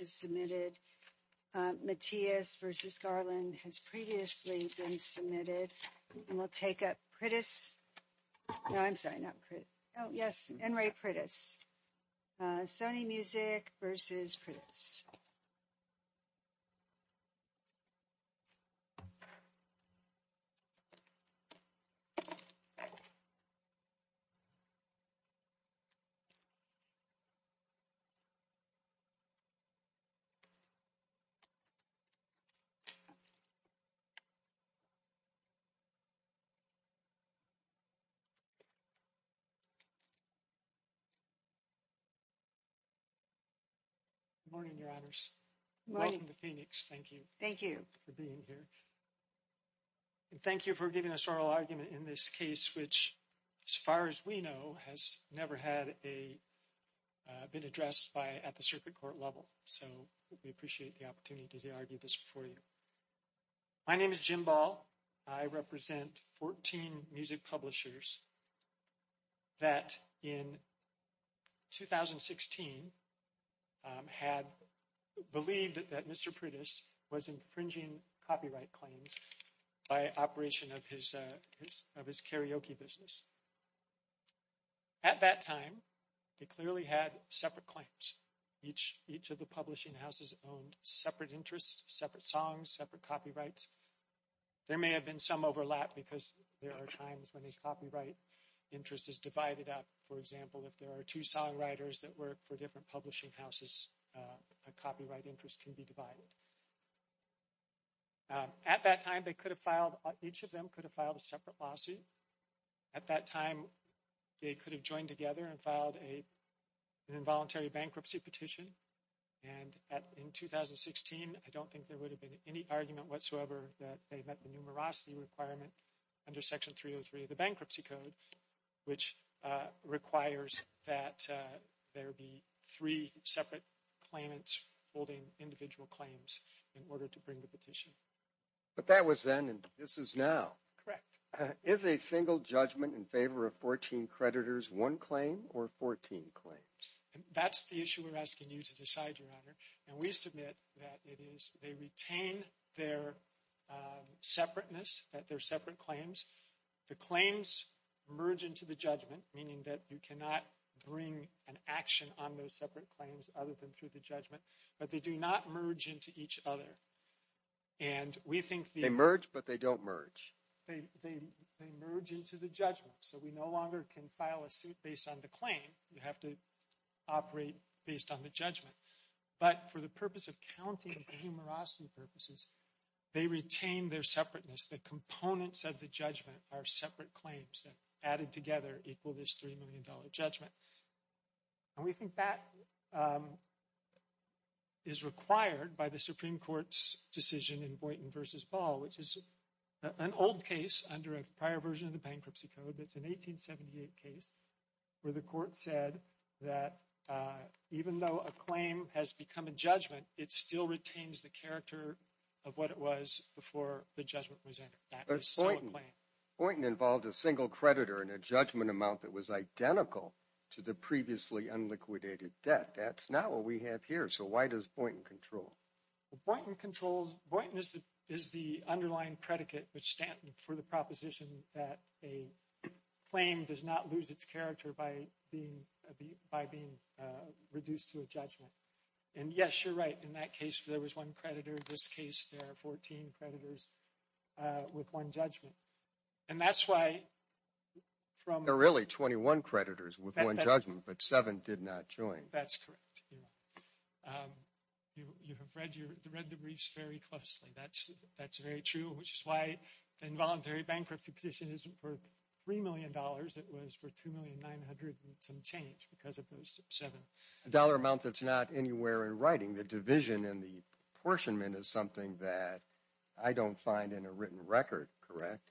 is submitted. Matias v. Garland has previously been submitted. And we'll take up Priddis. No, I'm sorry, not Priddis. Oh, yes, Enri Priddis. Sony Music v. Priddis. Good morning, Your Honors. Welcome to Phoenix. Thank you. Thank you. For being here. And thank you for giving us oral argument in this case, which, as far as we know, has never been addressed at the circuit court level. So we appreciate the opportunity to argue this for you. My name is Jim Ball. I represent 14 music publishers that in 2016 had believed that Mr. Priddis was infringing copyright claims by operation of his karaoke business. At that time, they clearly had separate claims. Each of the publishing houses owned separate interests, separate songs, separate copyrights. There may have been some overlap because there are times when a copyright interest is divided up. For example, if there are two songwriters that work for different publishing houses, a copyright interest can be divided. So at that time, they could have filed, each of them could have filed a separate lawsuit. At that time, they could have joined together and filed an involuntary bankruptcy petition. And in 2016, I don't think there would have been any argument whatsoever that they met the numerosity requirement under Section 303 of the Bankruptcy Code, which requires that there be three separate claimants holding individual claims in order to bring the petition. But that was then and this is now. Correct. Is a single judgment in favor of 14 creditors one claim or 14 claims? That's the issue we're asking you to decide, Your Honor. And we submit that it is, they retain their separateness, that they're separate claims. The claims merge into the judgment, meaning that you cannot bring an action on those separate claims other than through the judgment, but they do not merge into each other. And we think... They merge, but they don't merge. They merge into the judgment, so we no longer can file a suit based on the claim. You have to operate based on the judgment. But for the purpose of counting the numerosity purposes, they retain their separateness. The components of the judgment are separate claims added together equal this $3 million judgment. And we think that is required by the Supreme Court's decision in Boynton v. Ball, which is an old case under a prior version of the Bankruptcy Code. It's an 1878 case where the court said that even though a claim has become a judgment, it still retains the character of what it was before the judgment was entered. But Boynton involved a single creditor and a judgment amount that was identical to the previously unliquidated debt. That's not what we have here. So why does Boynton control? Boynton controls... Boynton is the underlying predicate for the proposition that a claim does not lose its character by being reduced to a judgment. And yes, you're right. In that case, there was one creditor. In this case, there are 14 creditors with one judgment. And that's why... There are really 21 creditors with one judgment, but seven did not join. That's correct. You have read the briefs very closely. That's very true, which is why the involuntary bankruptcy position isn't for $3 million. It was for $2,900,000 and some change because of those seven. A dollar amount that's not anywhere in writing. The division in the apportionment is something that I don't find in a written record, correct?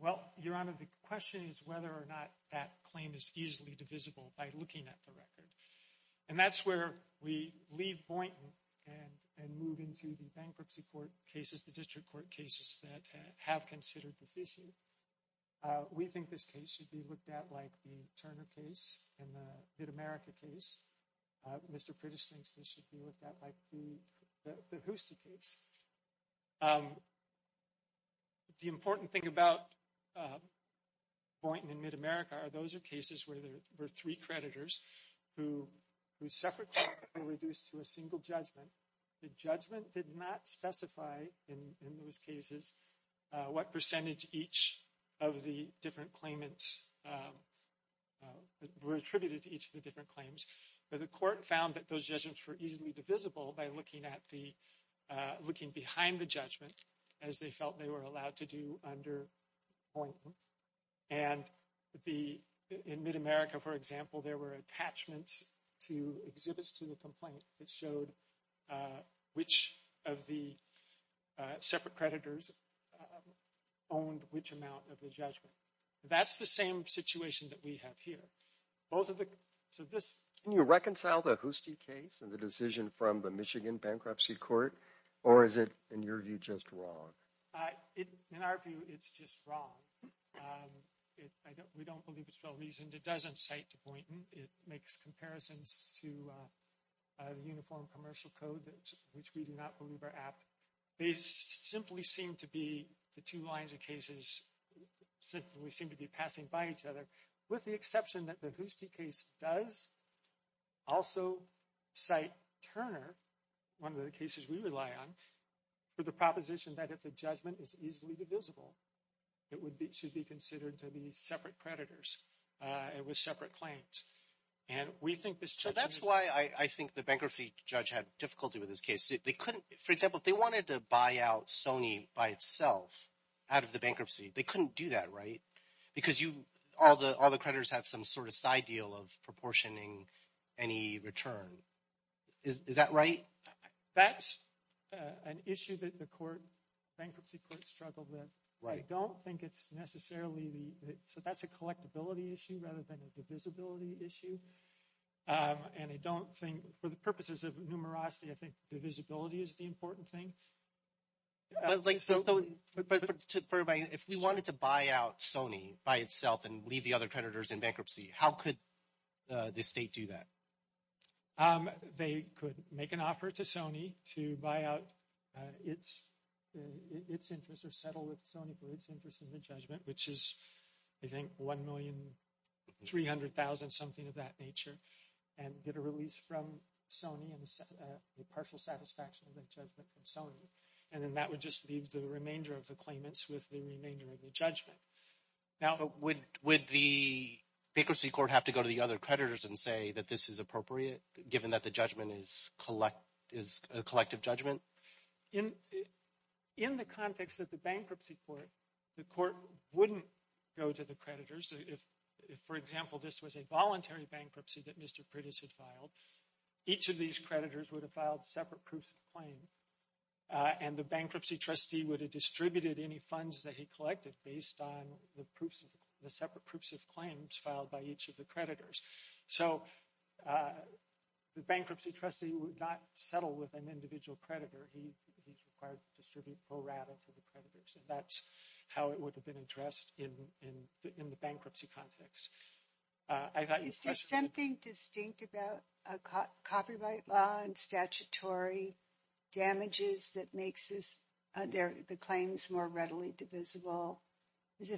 Well, Your Honor, the question is whether or not that claim is easily divisible by looking at the record. And that's where we leave Boynton and move into the bankruptcy court cases, the district court cases that have considered this issue. We think this case should be looked at like the Turner case and the Mid-America case. Mr. Pritish thinks this should be looked at like the Hoostie case. The important thing about Boynton and Mid-America are those are cases where there were three creditors who separately were reduced to a single judgment. The judgment did not specify in those cases what percentage each of the different claimants were attributed to each of the different claims. But the court found that those judgments were easily divisible by looking behind the judgment as they felt they were allowed to do under Boynton. And in Mid-America, for example, there were attachments to exhibits to the complaint that showed which of the separate creditors owned which amount of the judgment. That's the same situation that we have here. Can you reconcile the Hoostie case and the decision from the Michigan bankruptcy court or is it, in your view, just wrong? In our view, it's just wrong. We don't believe it's well coded, which we do not believe are apt. They simply seem to be the two lines of cases simply seem to be passing by each other with the exception that the Hoostie case does also cite Turner, one of the cases we rely on, for the proposition that if the judgment is easily divisible, it should be considered to be separate creditors and with separate claims. So that's why I think the bankruptcy judge had difficulty with this case. They couldn't, for example, if they wanted to buy out Sony by itself out of the bankruptcy, they couldn't do that, right? Because all the creditors have some sort of side deal of proportioning any return. Is that right? That's an issue that the bankruptcy court struggled with. I don't think it's necessarily the, so that's a collectability issue rather than a divisibility issue. And I don't think for the purposes of numerosity, I think divisibility is the important thing. But like, so if we wanted to buy out Sony by itself and leave the other creditors in bankruptcy, how could the state do that? They could make an offer to Sony to buy out its interest or settle with Sony for its interest in the judgment, which is, I think, $1,300,000, something of that nature, and get a release from Sony and the partial satisfaction of that judgment from Sony. And then that would just leave the remainder of the claimants with the remainder of the judgment. Now, would the bankruptcy court have to go to the other creditors and say that this is appropriate given that the judgment is a collective judgment? In the context of the bankruptcy court, the court wouldn't go to the creditors. If, for example, this was a voluntary bankruptcy that Mr. Pritis had filed, each of these creditors would have filed separate proofs of claim. And the bankruptcy trustee would have distributed any funds that he collected based on the separate proofs of claims filed by each of the creditors. So the bankruptcy trustee would not settle with an individual creditor. He's required to distribute pro rata for the creditors. And that's how it would have been addressed in the bankruptcy context. Is there something distinct about copyright law and statutory damages that makes the claims more readily divisible? Is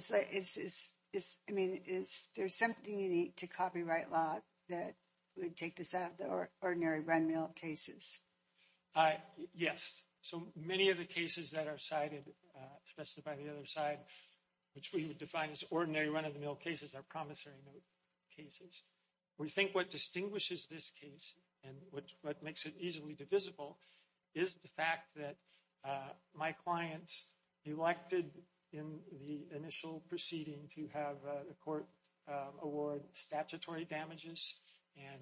there something unique to copyright law that would take this out of the ordinary run of the mill cases? Yes. So many of the cases that are cited, especially by the other side, which we would define as ordinary run of the mill cases are promissory note cases. We think what distinguishes this case and what makes it easily divisible is the fact that my clients elected in the initial proceeding to have a court award statutory damages and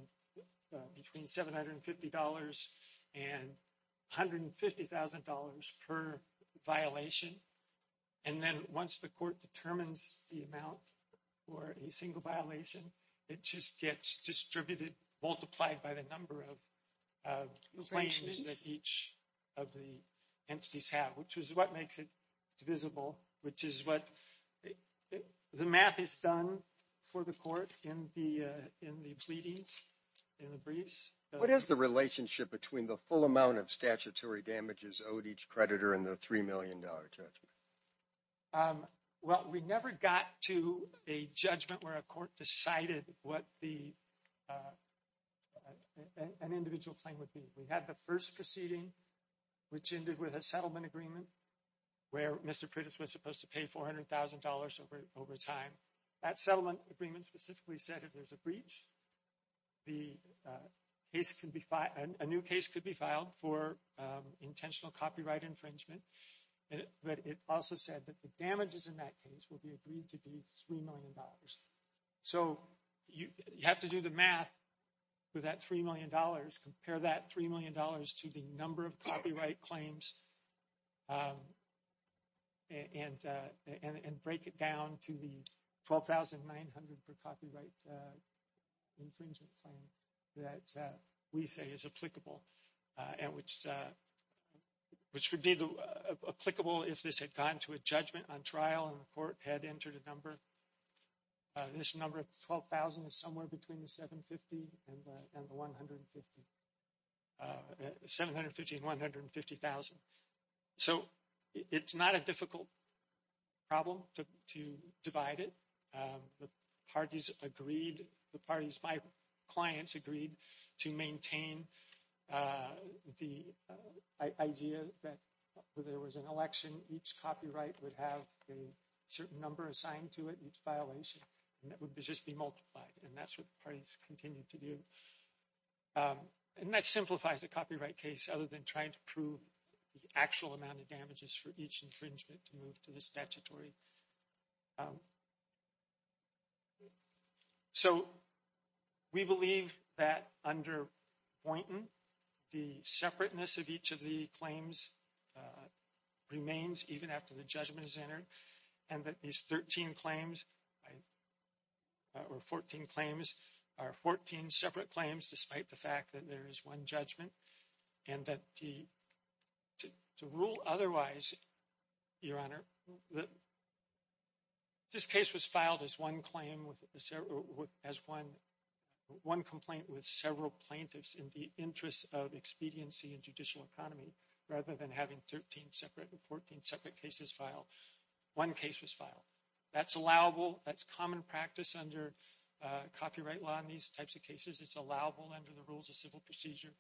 between $750 and $150,000 per violation. And then once the court determines the amount for a single violation, it just gets distributed, multiplied by the number of claims that each of the entities have, which is what the math is done for the court in the briefs. What is the relationship between the full amount of statutory damages owed each creditor and the $3 million judgment? Well, we never got to a judgment where a court decided what an individual claim would be. We had the first proceeding, which ended with a settlement agreement where Mr. Pritis was supposed to pay $400,000 over time. That settlement agreement specifically said if there's a breach, a new case could be filed for intentional copyright infringement. But it also said that the damages in that case would be agreed to be $3 million. So you have to do the math with that $3 million, compare that $3 million to the number of copyright claims and break it down to the $12,900 per copyright infringement claim that we say is applicable, and which would be applicable if this had gone to a judgment on trial and the court had entered a number. This number of $12,000 is somewhere between the $750,000 and the $150,000. $750,000 and $150,000. So it's not a difficult problem to divide it. The parties agreed, the parties, my clients agreed to maintain the idea that if there was an election, each copyright would have a certain number assigned to it, each violation, and it would just be multiplied. And that's what the parties continued to do. And that simplifies the copyright case other than trying to prove the actual amount of damages for each infringement to move to the statutory. So we believe that under Boynton, the separateness of each of the claims remains even after the judgment is entered. And that these 13 claims, or 14 claims, are 14 separate claims despite the fact that there is one judgment. And that to rule otherwise, Your Honor, this case was filed as one complaint with several plaintiffs in the interest of having 13 separate and 14 separate cases filed. One case was filed. That's allowable, that's common practice under copyright law in these types of cases. It's allowable under the rules of civil procedure.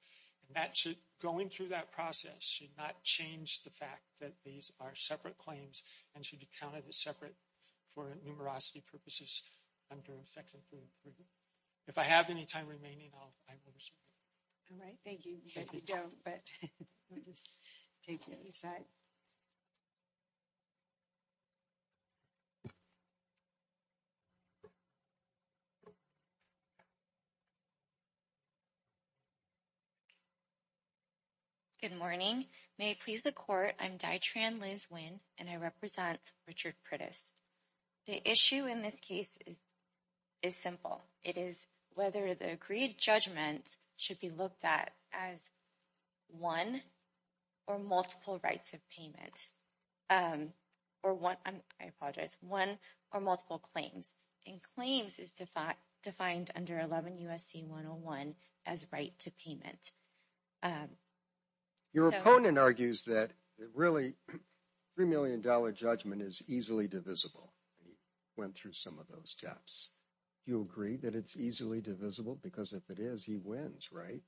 And that should, going through that process, should not change the fact that these are separate claims and should be counted as separate for numerosity purposes under Section 3. If I have any time remaining, I will reschedule. All right. Thank you. You don't, but we'll just take the other side. Good morning. May it please the Court, I'm Daitran Liz Nguyen, and I represent Richard Curtis. The issue in this case is simple. It is whether the agreed judgment should be looked at as one or multiple rights of payment, or one, I apologize, one or multiple claims. And claims is defined under 11 U.S.C. 101 as right to payment. Your opponent argues that really $3 million judgment is easily divisible. He went through some of those gaps. Do you agree that it's easily divisible? Because if it is, he wins, right?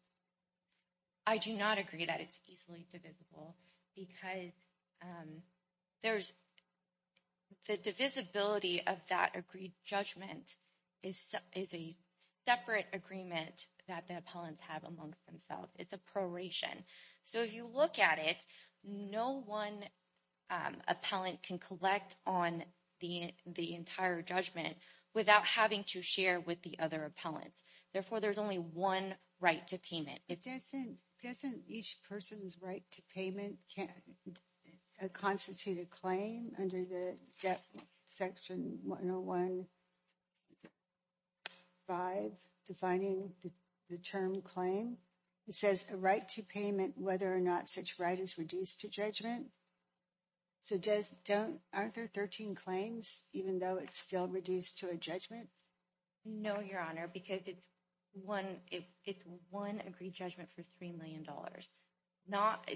I do not agree that it's easily divisible because there's the divisibility of that judgment is a separate agreement that the appellants have amongst themselves. It's a proration. So if you look at it, no one appellant can collect on the entire judgment without having to share with the other appellants. Therefore, there's only one right to payment. Doesn't each person's right to payment constitute a claim under the Section 101 5 defining the term claim? It says a right to payment whether or not such right is reduced to judgment. So aren't there 13 claims even though it's still reduced to a judgment? No, Your Honor, because it's one agreed judgment for $3 million.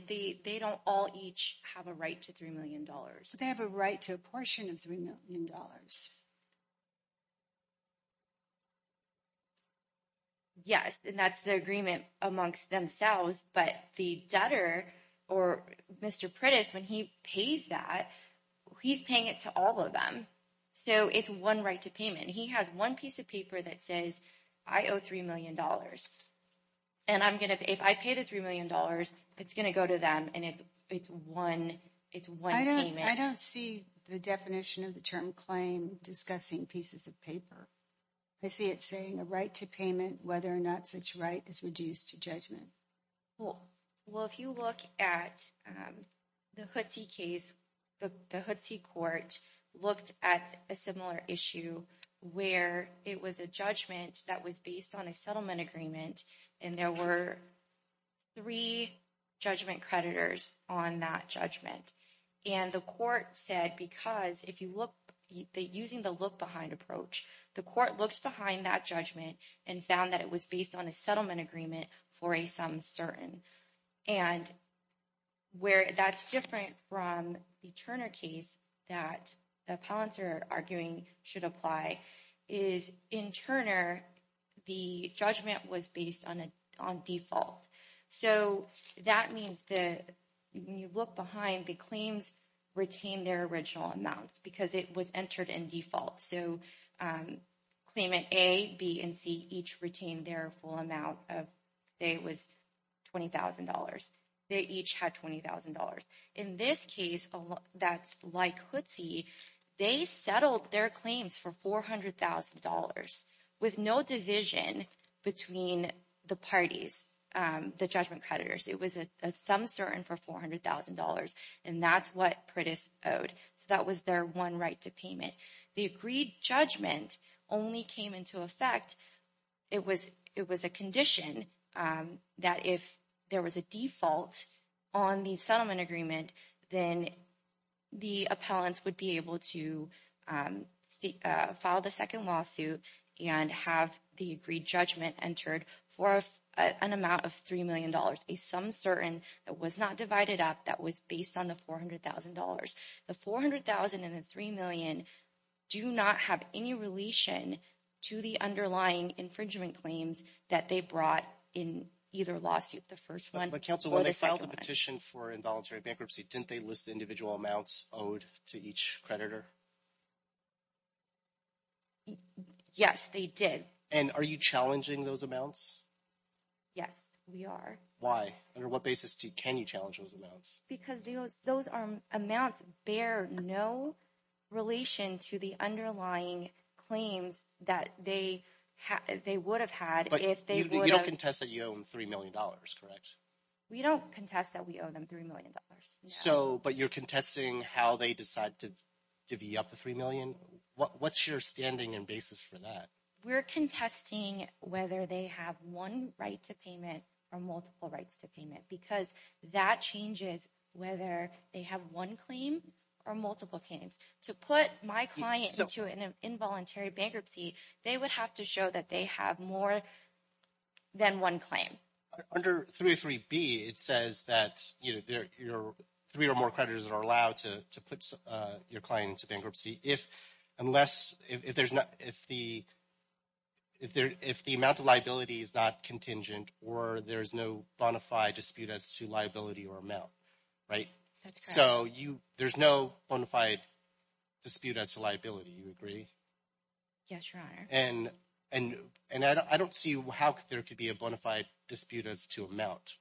They don't all each have a right to $3 million. But they have a right to a portion of $3 million. Yes, and that's the agreement amongst themselves. But the debtor, or Mr. Pritis, when he pays that, he's paying it to all of them. So it's one right to payment. He has one piece of paper that says, I owe $3 million. And if I pay the $3 million, it's going to go to them, and it's one payment. I don't see the definition of the term claim discussing pieces of paper. I see it saying a right to payment whether or not such right is reduced to judgment. Well, if you look at the Hootsie case, the Hootsie court looked at a similar issue where it was a judgment that was based on a settlement agreement. And there were three judgment creditors on that judgment. And the court said, because if you look, using the look behind approach, the court looks behind that judgment and found that it was based on a settlement agreement for a sum certain. And where that's different from the Turner case that the appellants are arguing should apply is in Turner, the judgment was based on default. So that means that when you look behind, the claims retained their original amounts because it was entered in default. So claimant A, B, and C each retained their full amount of, say it was $20,000. They each had $20,000. In this case, that's like Hootsie, they settled their claims for $400,000 with no division between the parties, the judgment creditors. It was a sum certain for $400,000. And that's what Pritis owed. So that was their one right to payment. The agreed judgment only came into effect, it was a condition that if there was a default on the settlement agreement, then the appellants would be able to file the second lawsuit and have the agreed judgment entered for an amount of $3 million, a sum certain that was not divided up, that was based on the $400,000. The $400,000 and the $3 million do not have any relation to the underlying infringement claims that they brought in either lawsuit, the first one or the second one. But counsel, when they filed the petition for involuntary bankruptcy, didn't they list the individual amounts owed to each creditor? Yes, they did. And are you challenging those amounts? Yes, we are. Why? Under what basis can you challenge those amounts? Because those amounts bear no relation to the underlying claims that they would have had if they would have- You don't contest that you owe them $3 million, correct? We don't contest that we owe them $3 million. But you're contesting how they decide to divvy up the $3 million? What's your standing and basis for that? We're contesting whether they have one right to payment or multiple rights to payment, because that changes whether they have one claim or multiple claims. To put my client into an involuntary bankruptcy, they would have to show that they have more than one claim. Under 303B, it says that three or more creditors are allowed to put your client into bankruptcy if the amount of liability is not contingent or there's no bonafide dispute as to liability or amount, right? That's correct. So there's no bonafide dispute as to liability, you agree? Yes, Your Honor. And I don't see how there could be a bonafide dispute as to amount.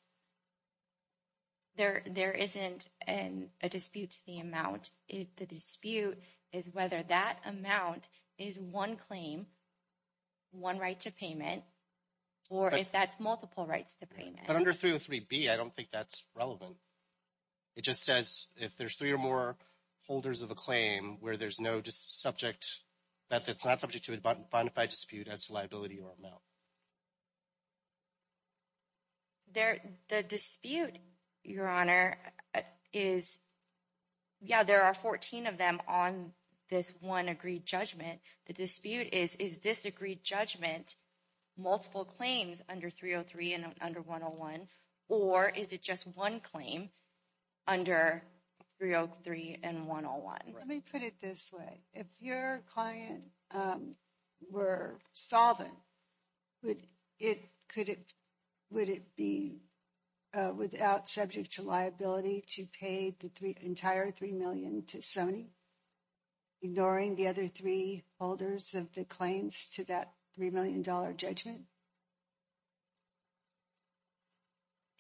There isn't a dispute to the amount. The dispute is whether that amount is one claim, one right to payment, or if that's multiple rights to payment. But under 303B, I don't think that's relevant. It just says if there's three or more holders of a claim where there's no subject, that that's not subject to a bonafide dispute as to liability or amount. The dispute, Your Honor, is, yeah, there are 14 of them on this one agreed judgment. The dispute is, is this agreed judgment multiple claims under 303 and under 101? Or is it just one claim under 303 and 101? Let me put it this way. If your client were solvent, would it be without subject to liability to pay the entire $3 million to Sony, ignoring the other three holders of the claims to that $3 million judgment?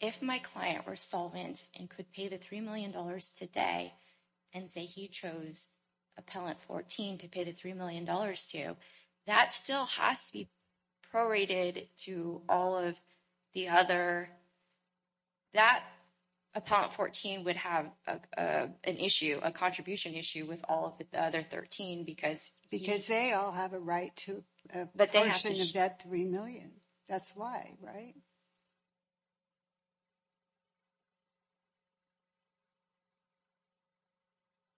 If my client were solvent and could pay the $3 million today, and say he chose Appellant 14 to pay the $3 million to, that still has to be prorated to all of the other, that Appellant 14 would have an issue, a contribution issue with all of the other 13 because. Because they all have a right to a portion of that $3 million. That's why, right?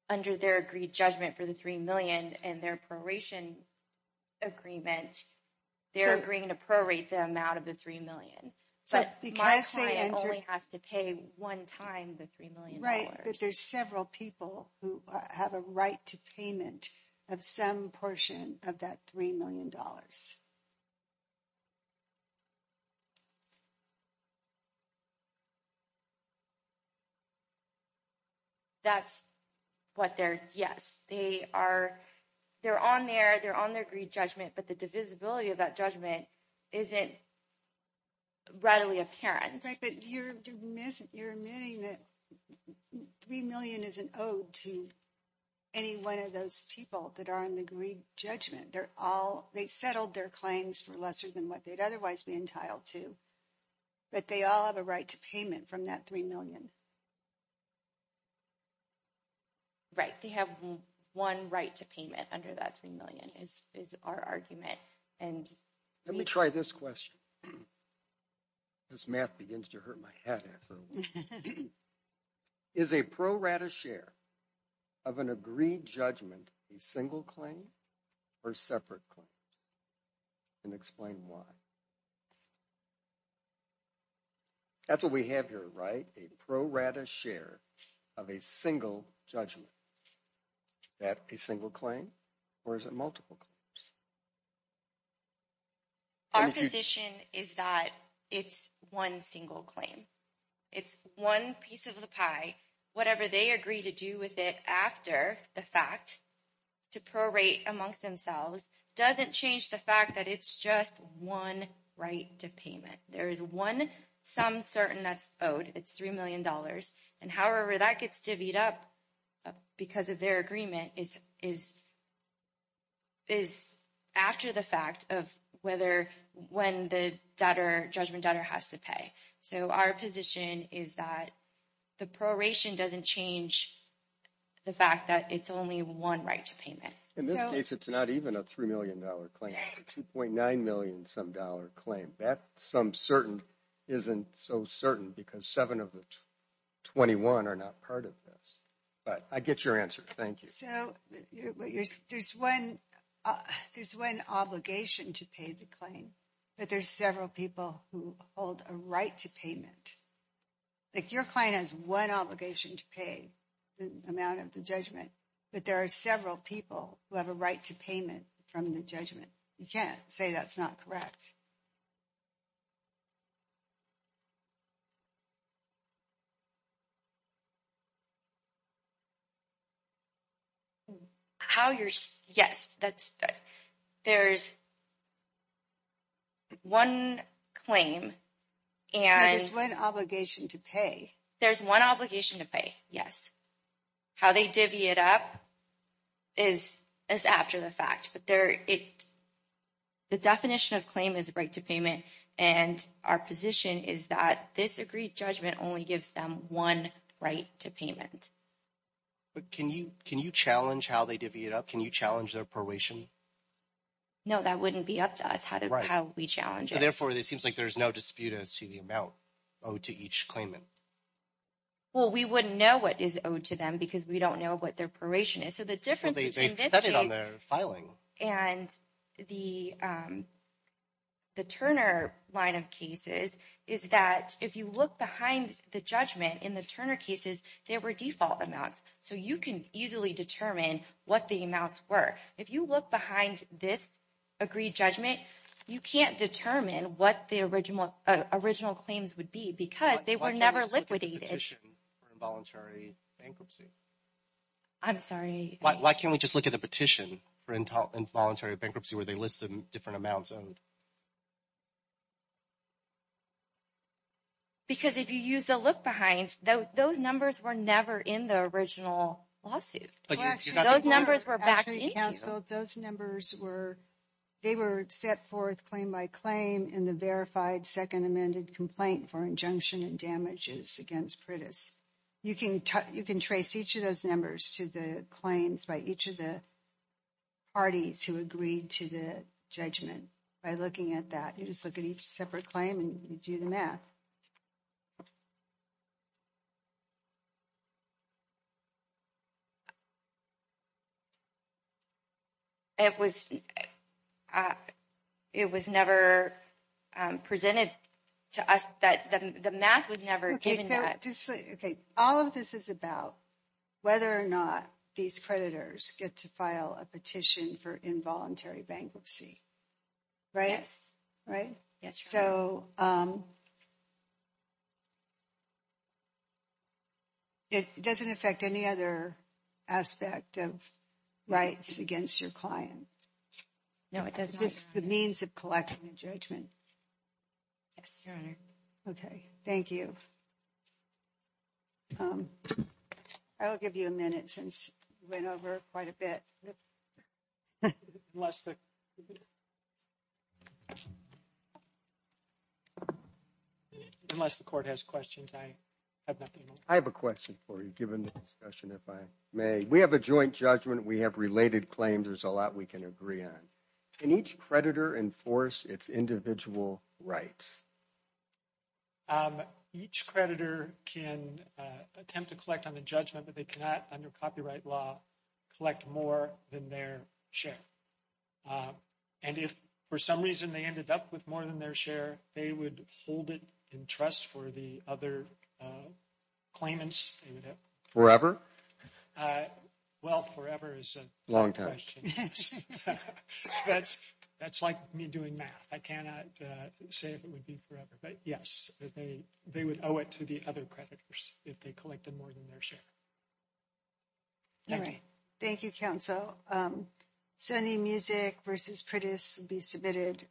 Under their agreed judgment for the $3 million and their proration agreement, they're agreeing to prorate the amount of the $3 million. But my client only has to pay one time the $3 million. Right, but there's several people who have a right to payment of some portion of that $3 million. Yes, they're on their agreed judgment, but the divisibility of that judgment isn't readily apparent. In fact, you're admitting that $3 million is an ode to any one of those people that are in the agreed judgment. They settled their claims for lesser than what they'd otherwise be entitled to. But they all have a right to payment from that $3 million. Right, they have one right to payment under that $3 million is our argument. And let me try this question. This math begins to hurt my head. Is a prorated share of an agreed judgment a single claim or separate claim? And explain why. That's what we have here, right? A prorated share of a single judgment. Is that a single claim or is it multiple claims? Our position is that it's one single claim. It's one piece of the pie. Whatever they agree to do with it after the fact to prorate amongst themselves doesn't change the fact that it's just one right to payment. There is one sum certain that's owed. It's $3 million. And however that gets divvied up because of their agreement is after the fact of when the judgment debtor has to pay. So our position is that the proration doesn't change the fact that it's only one right to payment. In this case, it's not even a $3 million claim. It's a $2.9 million some dollar claim. That sum certain isn't so certain because seven of the 21 are not part of this. But I get your answer. Thank you. So there's one obligation to pay the claim. But there's several people who hold a right to payment. Like your client has one obligation to pay the amount of the judgment. But there are several people who have a right to payment from the judgment. You can't say that's not correct. How you're... Yes, there's one claim and... There's one obligation to pay. There's one obligation to pay. Yes. How they divvy it up is after the fact. But the definition of claim is a right to payment. And our position is that this agreed judgment only gives them one right to payment. But can you challenge how they divvy it up? Can you challenge their proration? No, that wouldn't be up to us how we challenge it. Therefore, it seems like there's no dispute as to the amount owed to each claimant. Well, we wouldn't know what is owed to them because we don't know what their proration is. So the difference between... Filing. And the Turner line of cases is that if you look behind the judgment in the Turner cases, there were default amounts. So you can easily determine what the amounts were. If you look behind this agreed judgment, you can't determine what the original claims would be because they were never liquidated. Why can't we just look at the petition for involuntary bankruptcy? I'm sorry. Why can't we just look at the petition for involuntary bankruptcy, where they listed different amounts owed? Because if you use the look behind, those numbers were never in the original lawsuit. Those numbers were backed into. Those numbers were, they were set forth claim by claim in the verified second amended complaint for injunction and damages against Pritis. You can trace each of those numbers to the claims by each of the parties who agreed to the judgment by looking at that. You just look at each separate claim and you do the math. It was never presented to us that the math was never given that. All of this is about whether or not these creditors get to file a petition for involuntary bankruptcy, right? Right. Yes. So it doesn't affect any other aspect of rights against your client. No, it does. It's the means of collecting a judgment. Yes, your honor. Okay. Thank you. I'll give you a minute since we went over quite a bit. Unless the court has questions, I have nothing. I have a question for you, given the discussion, if I may. We have a joint judgment. We have related claims. There's a lot we can agree on. Can each creditor enforce its individual rights? Each creditor can attempt to collect on the judgment, but they cannot, under copyright law, collect more than their share. And if, for some reason, they ended up with more than their share, they would hold it in trust for the other claimants they would have. Forever? Well, forever is a long question. Long time. Yes. That's like me doing math. I cannot say if it would be forever. But yes, they would owe it to the other creditors if they collected more than their share. All right. Thank you, counsel. Sonny Musick v. Pritis will be submitted.